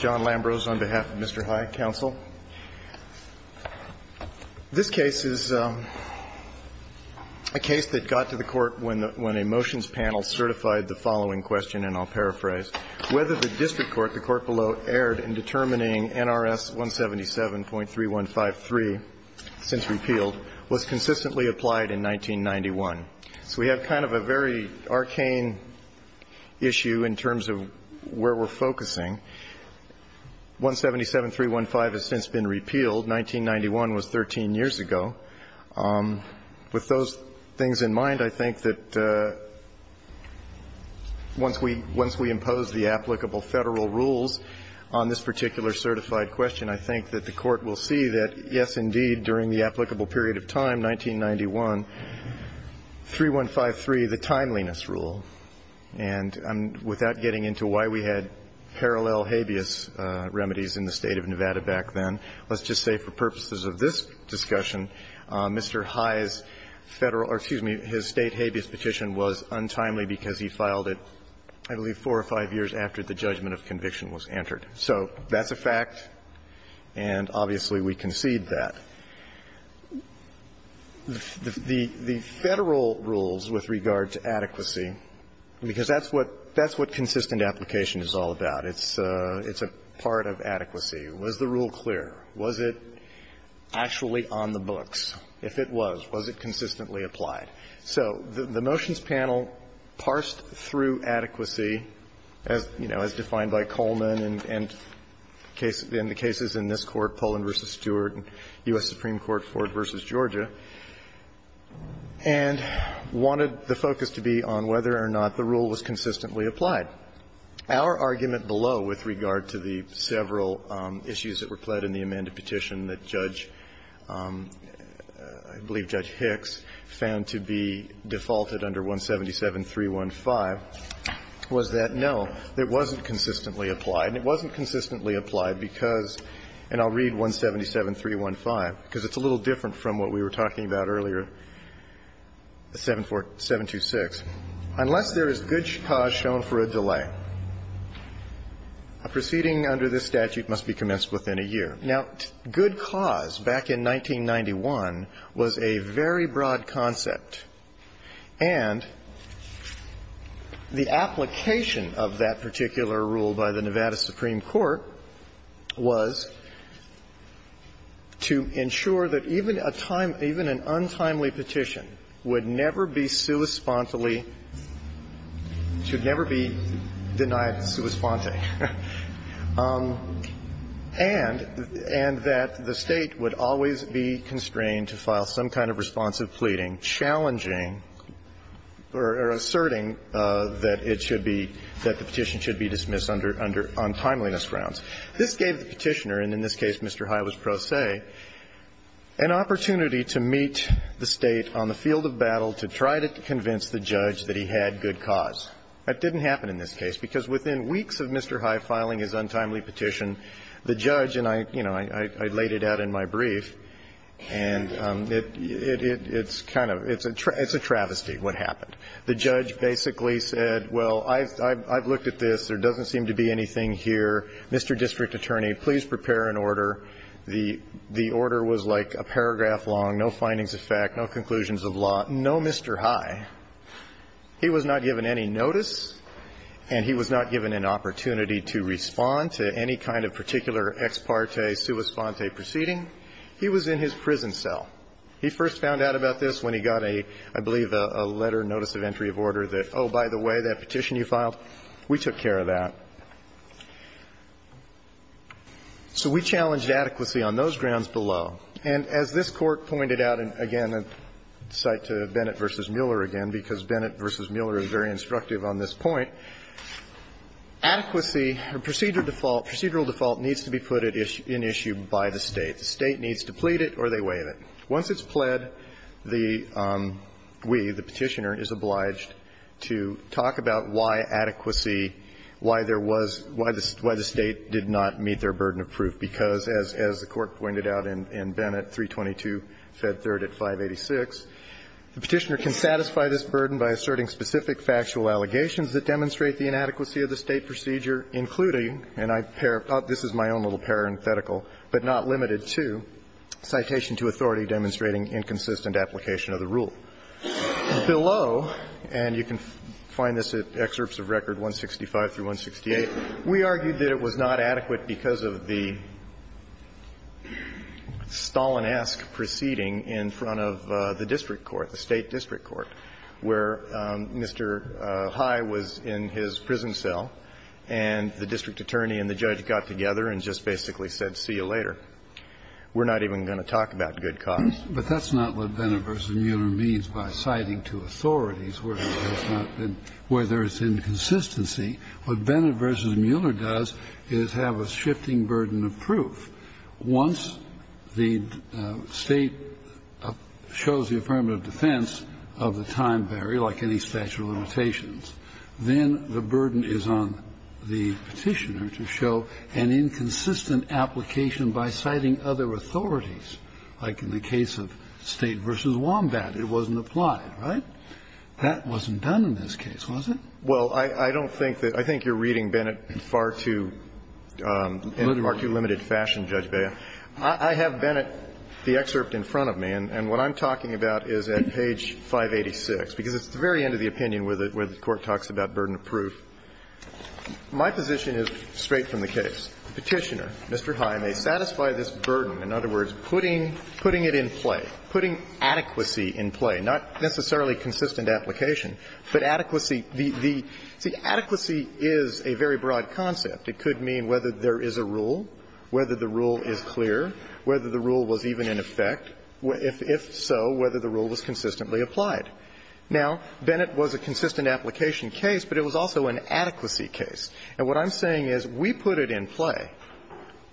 Lambros, on behalf of Mr. High Council. This case is a case that got to the Court when a motions panel certified the following question, and I'll paraphrase. Whether the district court, the Court below, erred in determining NRS 177.3153 since repealed was consistently applied in 1991. So we have kind of a very arcane issue in terms of where we're focusing. 177.315 has since been repealed. 1991 was 13 years ago. With those things in mind, I think that once we impose the applicable Federal rules on this particular certified question, I think that the Court will see that, yes, indeed, during the applicable period of time, 1991, 3153, the timeliness rule. And without getting into why we had parallel habeas remedies in the State of Nevada back then, let's just say for purposes of this discussion, Mr. High's Federal or, excuse me, his State habeas petition was untimely because he filed it, I believe, 4 or 5 years after the judgment of conviction was entered. So that's a fact, and obviously we concede that. The Federal rules with regard to adequacy, because that's what consistent application is all about. It's a part of adequacy. Was the rule clear? Was it actually on the books? If it was, was it consistently applied? So the motions panel parsed through adequacy, as, you know, in the cases in this Court, Poland v. Stewart, U.S. Supreme Court, Ford v. Georgia, and wanted the focus to be on whether or not the rule was consistently applied. Our argument below with regard to the several issues that were pled in the amended petition that Judge, I believe Judge Hicks, found to be defaulted under 177-315 was that, no, it wasn't consistently applied, and it wasn't consistently applied because, and I'll read 177-315, because it's a little different from what we were talking about earlier, 726, unless there is good cause shown for a delay. A proceeding under this statute must be commenced within a year. Now, good cause, back in 1991, was a very broad concept. And the application of that particular rule by the Nevada Supreme Court was to ensure that even a time --" even an untimely petition would never be sui spontely, should never be denied sui sponte, and that the State would always be constrained to file some kind of responsive pleading challenging or asserting that it should be, that the petition should be dismissed on timeliness grounds. This gave the Petitioner, and in this case, Mr. High was pro se, an opportunity to meet the State on the field of battle to try to convince the judge that he had good cause. That didn't happen in this case, because within weeks of Mr. High filing his untimely petition, the judge, and I, you know, I laid it out in my brief, and it's kind of, it's a travesty what happened. The judge basically said, well, I've looked at this. There doesn't seem to be anything here. Mr. District Attorney, please prepare an order. The order was like a paragraph long, no findings of fact, no conclusions of law, no Mr. High. He was not given any notice, and he was not given an opportunity to respond to any kind of particular ex parte, sui sponte proceeding. He was in his prison cell. He first found out about this when he got a, I believe, a letter, notice of entry of order that, oh, by the way, that petition you filed, we took care of that. So we challenged adequacy on those grounds below. And as this Court pointed out, and again, I cite to Bennett v. Mueller again, because Bennett v. Mueller is very instructive on this point, adequacy or procedural default, procedural default needs to be put in issue by the State. The State needs to plead it or they waive it. Once it's pled, the GUI, the Petitioner, is obliged to talk about why adequacy, why there was, why the State did not meet their requirements in Bennett, 322, Fed 3rd at 586. The Petitioner can satisfy this burden by asserting specific factual allegations that demonstrate the inadequacy of the State procedure, including, and I paraphrase this, this is my own little parenthetical, but not limited to, citation to authority demonstrating inconsistent application of the rule. Below, and you can find this at excerpts of record 165 through 168, we argued that it was not adequate because of the Stalin-esque proceeding in front of the district court, the State district court, where Mr. High was in his prison cell and the district attorney and the judge got together and just basically said, see you later. We're not even going to talk about good cause. But that's not what Bennett v. Mueller means by citing to authorities, where it's not been, where there is inconsistency. What Bennett v. Mueller does is have a shifting burden of proof. Once the State shows the affirmative defense of the time barrier, like any statute of limitations, then the burden is on the Petitioner to show an inconsistent application by citing other authorities, like in the case of State v. Wombat. It wasn't applied, right? That wasn't done in this case, was it? Well, I don't think that you're reading Bennett in far too limited fashion, Judge Bea. I have Bennett, the excerpt in front of me, and what I'm talking about is at page 586, because it's the very end of the opinion where the Court talks about burden of proof. My position is straight from the case. The Petitioner, Mr. High, may satisfy this burden, in other words, putting it in play, putting adequacy in play, not necessarily consistent application, but adequacy in play. The adequacy is a very broad concept. It could mean whether there is a rule, whether the rule is clear, whether the rule was even in effect, if so, whether the rule was consistently applied. Now, Bennett was a consistent application case, but it was also an adequacy case. And what I'm saying is we put it in play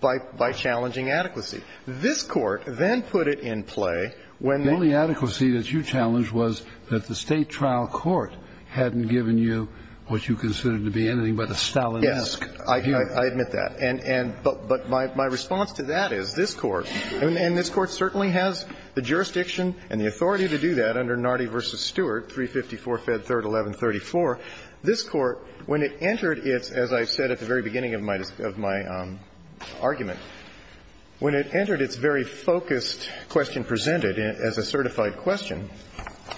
by challenging adequacy. This Court then put it in play when the only adequacy that you challenged was that the State trial court hadn't given you what you considered to be anything but a Stalinesque hearing. Yes, I admit that. And my response to that is this Court, and this Court certainly has the jurisdiction and the authority to do that under Nardi v. Stewart, 354, Fed 3rd, 1134. This Court, when it entered its, as I said at the very beginning of my argument, when it entered its very focused question presented as a certified question,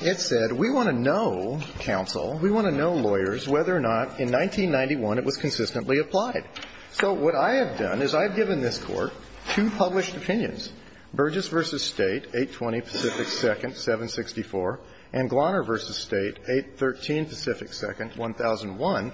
it said, we want to know, counsel, we want to know, lawyers, whether or not in 1991 it was consistently applied. So what I have done is I have given this Court two published opinions, Burgess v. State, 820 Pacific 2nd, 764, and Glarner v. State, 813 Pacific 2nd, 1001,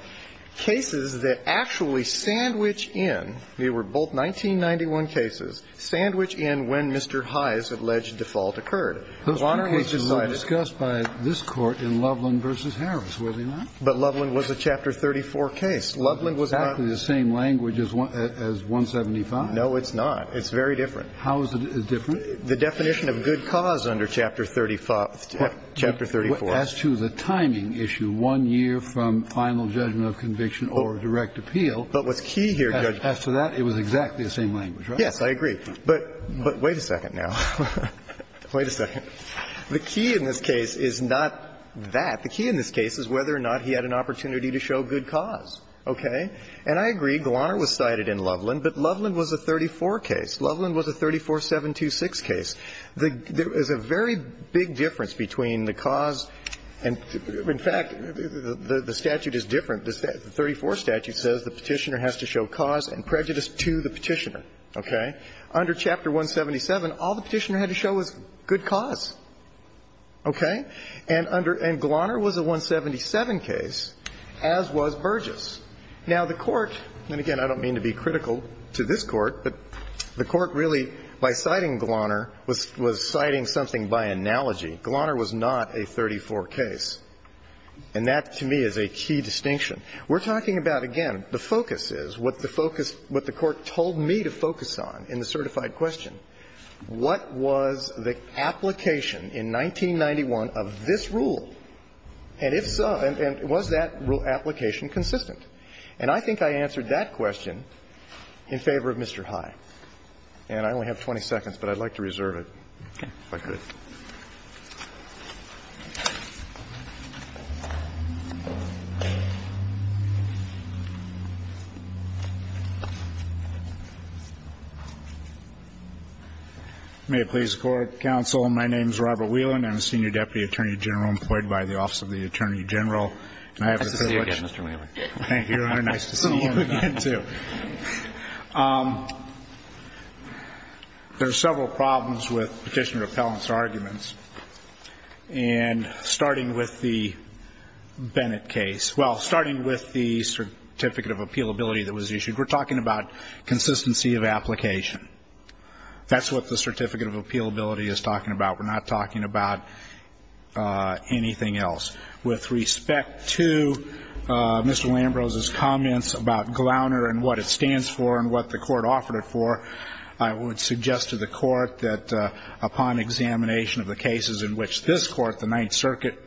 cases that actually sandwich in, they were both 1991 cases, sandwich in when Mr. High's alleged default occurred. Those two cases were discussed by this Court in Loveland v. Harris, were they not? But Loveland was a Chapter 34 case. Loveland was not the same language as 175. No, it's not. It's very different. How is it different? The definition of good cause under Chapter 35, Chapter 34. As to the timing issue, one year from final judgment of conviction or direct appeal. But what's key here, Judge, after that, it was exactly the same language, right? Yes, I agree. But wait a second now. Wait a second. The key in this case is not that. The key in this case is whether or not he had an opportunity to show good cause. Okay? And I agree. Glarner was cited in Loveland, but Loveland was a 34 case. Loveland was a 34-726 case. There is a very big difference between the cause and the – in fact, the statute is different. The 34 statute says the Petitioner has to show cause and prejudice to the Petitioner. Okay? Under Chapter 177, all the Petitioner had to show was good cause. Okay? And under – and Glarner was a 177 case, as was Burgess. Now, the Court – and again, I don't mean to be critical to this Court, but the Court really, by citing Glarner, was citing something by analogy. Glarner was not a 34 case. And that, to me, is a key distinction. We're talking about, again, the focus is, what the focus – what the Court told me to focus on in the certified question, what was the application in 1991 of this rule, and if so – and was that rule application consistent? And I think I answered that question in favor of Mr. High. And I only have 20 seconds, but I'd like to reserve it, if I could. May it please the Court, counsel, my name is Robert Whelan, I'm a senior deputy attorney general employed by the Office of the Attorney General, and I have the privilege – Nice to see you again, Mr. Whelan. Thank you, and nice to see you again, too. There are several problems with Petitioner Appellant's arguments, and starting with the Bennett case – well, starting with the Certificate of Appealability that was issued, we're talking about consistency of application. That's what the Certificate of Appealability is talking about. We're not talking about anything else. With respect to Mr. Lambrose's comments about GLOUNER and what it stands for and what the Court offered it for, I would suggest to the Court that upon examination of the cases in which this Court, the Ninth Circuit,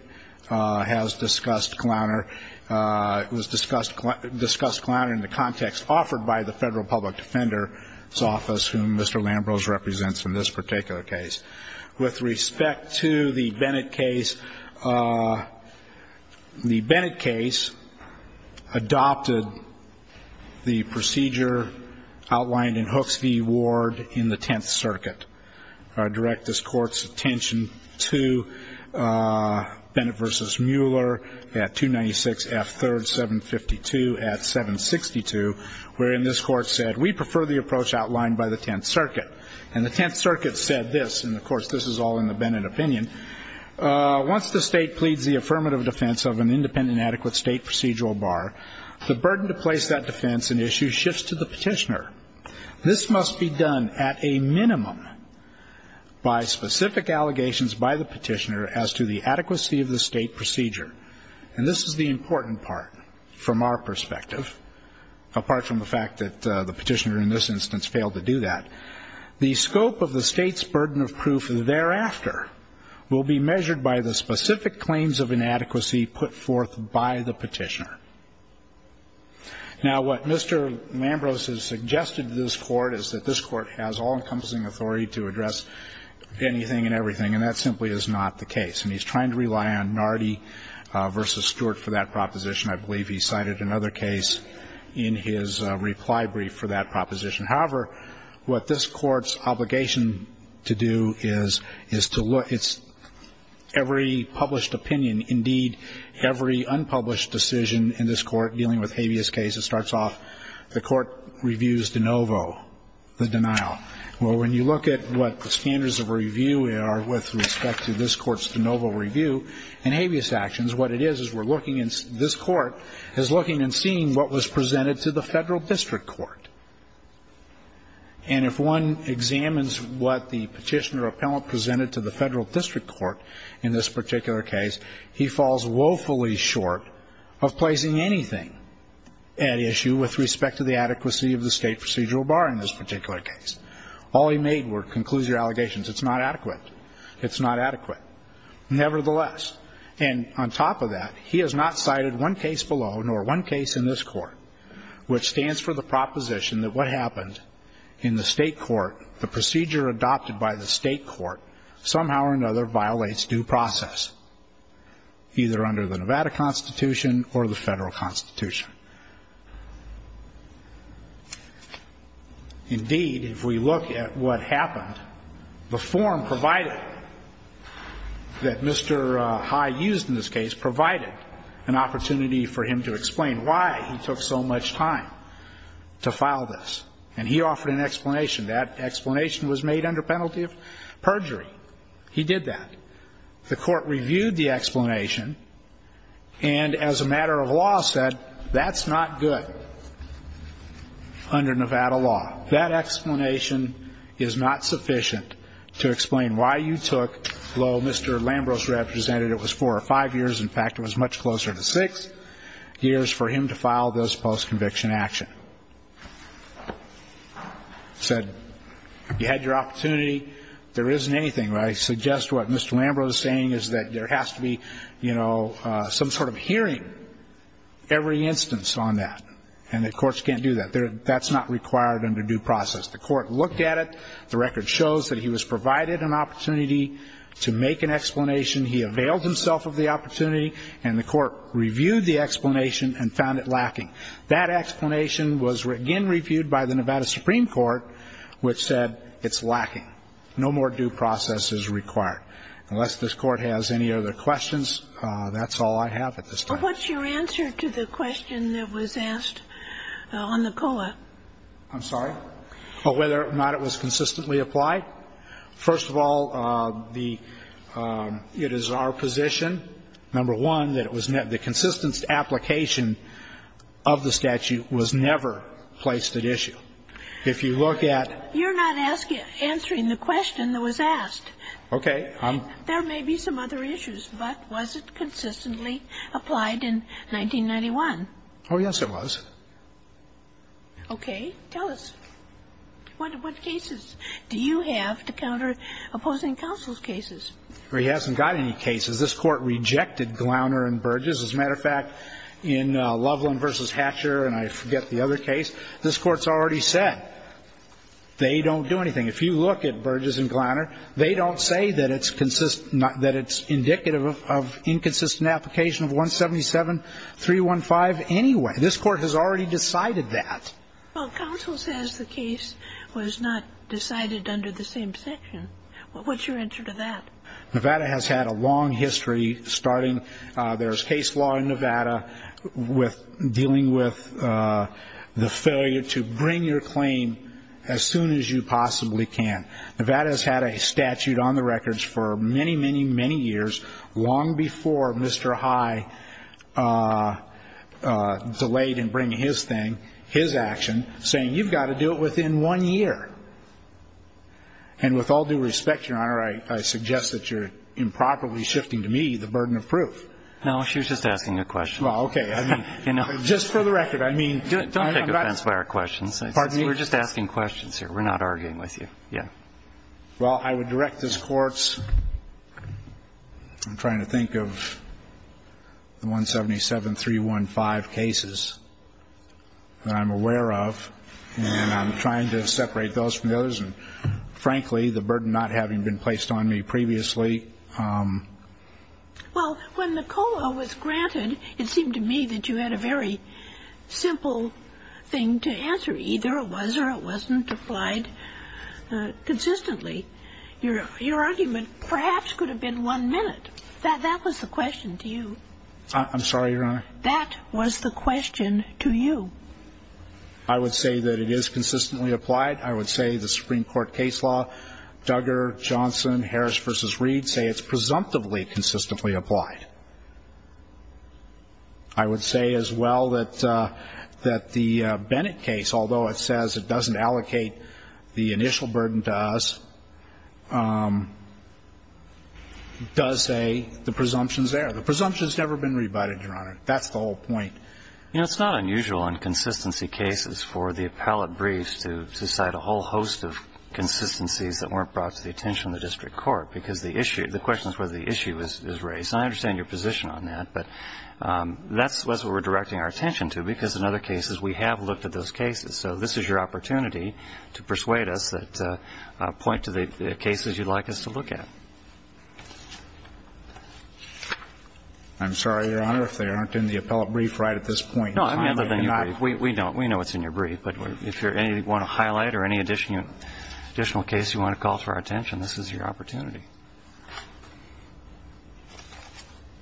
has discussed GLOUNER, it was discussed GLOUNER in the context offered by the Federal Public Defender's Office, whom Mr. Lambrose represents in this particular case. With respect to the Bennett case, the Bennett case adopted the procedure outlined in Hooks v. Ward in the Tenth Circuit. I direct this Court's attention to Bennett v. Mueller at 296 F. 3rd, 752 at 762, wherein this Court said, we prefer the approach outlined by the Tenth Circuit. And the Tenth Circuit said this, and of course, this is all in the Bennett opinion. Once the state pleads the affirmative defense of an independent adequate state procedural bar, the burden to place that defense in issue shifts to the petitioner. This must be done at a minimum by specific allegations by the petitioner as to the adequacy of the state procedure. And this is the important part from our perspective, apart from the fact that the petitioner in this instance failed to do that. The scope of the state's burden of proof thereafter will be measured by the specific claims of inadequacy put forth by the petitioner. Now, what Mr. Lambrose has suggested to this Court is that this Court has all encompassing authority to address anything and everything, and that simply is not the case, and he's trying to rely on Nardi v. Stewart for that proposition. I believe he cited another case in his reply brief for that proposition. However, what this Court's obligation to do is to look, it's every published opinion, indeed, every unpublished decision in this Court dealing with habeas cases starts off, the Court reviews de novo the denial. Well, when you look at what the standards of review are with respect to this Court's evidence, this Court is looking and seeing what was presented to the Federal District Court. And if one examines what the petitioner or appellant presented to the Federal District Court in this particular case, he falls woefully short of placing anything at issue with respect to the adequacy of the state procedural bar in this particular case. All he made were, concludes your allegations, it's not adequate. It's not adequate. Nevertheless, and on top of that, he has not cited one case below, nor one case in this Court, which stands for the proposition that what happened in the state court, the procedure adopted by the state court, somehow or another violates due process. Either under the Nevada Constitution or the Federal Constitution. Indeed, if we look at what happened, the form provided that Mr. High used in this case provided an opportunity for him to explain why he took so much time to file this. And he offered an explanation. That explanation was made under penalty of perjury. He did that. The court reviewed the explanation, and as a matter of law said, that's not good under Nevada law. That explanation is not sufficient to explain why you took, well, Mr. Lambros represented it was four or five years. In fact, it was much closer to six years for him to file this post-conviction action. Said, you had your opportunity. There isn't anything, right? Suggest what Mr. Lambros is saying is that there has to be some sort of hearing. Every instance on that. And the courts can't do that. That's not required under due process. The court looked at it. The record shows that he was provided an opportunity to make an explanation. He availed himself of the opportunity, and the court reviewed the explanation and found it lacking. That explanation was again reviewed by the Nevada Supreme Court, which said it's lacking. No more due process is required. Unless this court has any other questions, that's all I have at this time. What's your answer to the question that was asked on the COA? I'm sorry? Whether or not it was consistently applied. First of all, the It is our position, number one, that it was the consistent application of the statute was never placed at issue. If you look at. You're not answering the question that was asked. Okay. There may be some other issues, but was it consistently applied in 1991? Oh, yes, it was. Okay. Tell us. What cases do you have to counter opposing counsel's cases? He hasn't got any cases. This Court rejected Glowner and Burgess. As a matter of fact, in Loveland v. Hatcher, and I forget the other case, this Court's already said they don't do anything. If you look at Burgess and Glowner, they don't say that it's indicative of inconsistent application of 177.315 anyway. This Court has already decided that. Well, counsel says the case was not decided under the same section. What's your answer to that? Nevada has had a long history starting. There's case law in Nevada dealing with the failure to bring your claim as soon as you possibly can. Nevada has had a statute on the records for many, many, many years, long before Mr. High delayed in bringing his thing, his action, saying you've got to do it within one year. And with all due respect, Your Honor, I suggest that you're improperly shifting to me the burden of proof. No, she was just asking a question. Well, okay. I mean, just for the record, I mean, I'm not going to argue with you. Don't take offense by our questions. We're just asking questions here. We're not arguing with you. Yeah. Well, I would direct this Court's – I'm trying to think of the 177.315 cases that I'm aware of, and I'm trying to separate those two. And frankly, the burden not having been placed on me previously – Well, when the COLA was granted, it seemed to me that you had a very simple thing to answer. Either it was or it wasn't applied consistently. Your argument perhaps could have been one minute. That was the question to you. I'm sorry, Your Honor? That was the question to you. I would say that it is consistently applied. I would say the Supreme Court case law, Duggar, Johnson, Harris v. Reed, say it's presumptively consistently applied. I would say as well that the Bennett case, although it says it doesn't allocate the initial burden to us, does say the presumption's there. The presumption's never been rebutted, Your Honor. That's the whole point. You know, it's not unusual in consistency cases for the appellate briefs to cite a whole host of consistencies that weren't brought to the attention of the district court, because the issue – the question is whether the issue is raised. And I understand your position on that, but that's what we're directing our attention to, because in other cases we have looked at those cases. So this is your opportunity to persuade us that – point to the cases you'd like us to look at. I'm sorry, Your Honor, if they aren't in the appellate brief right at this point. No, I mean, other than your brief. We know it's in your brief, but if you want to highlight or any additional case you want to call to our attention, this is your opportunity.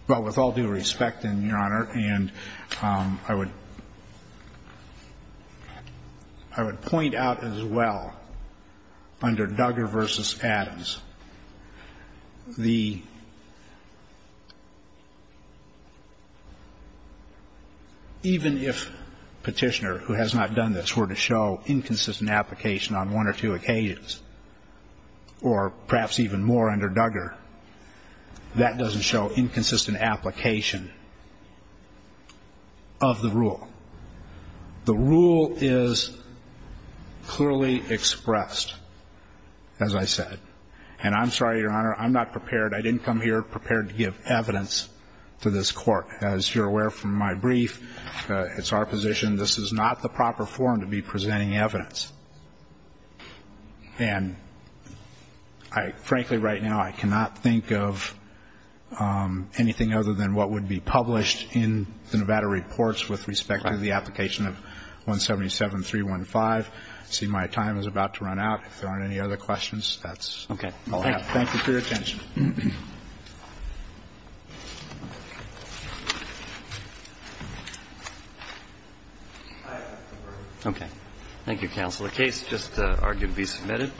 Well, with all due respect, then, Your Honor, and I would point out as well, under Duggar v. Adams, the – even if Petitioner, who has not done this, were to show inconsistent application on one or two occasions, or perhaps even more under Duggar, that doesn't show inconsistent application of the rule. The rule is clearly expressed, as I said. And I'm sorry, Your Honor, I'm not prepared – I didn't come here prepared to give evidence to this Court. As you're aware from my brief, it's our position this is not the proper forum to be presenting evidence. And I – frankly, right now, I cannot think of anything other than what would be published in the Nevada reports with respect to the application of 177-315. I see my time is about to run out. If there aren't any other questions, that's all I have. Thank you for your attention. Thank you, counsel. The case just argued to be submitted.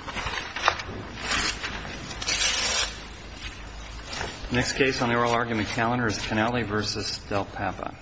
The next case on the oral argument calendar is Cannelli v. Del Papa.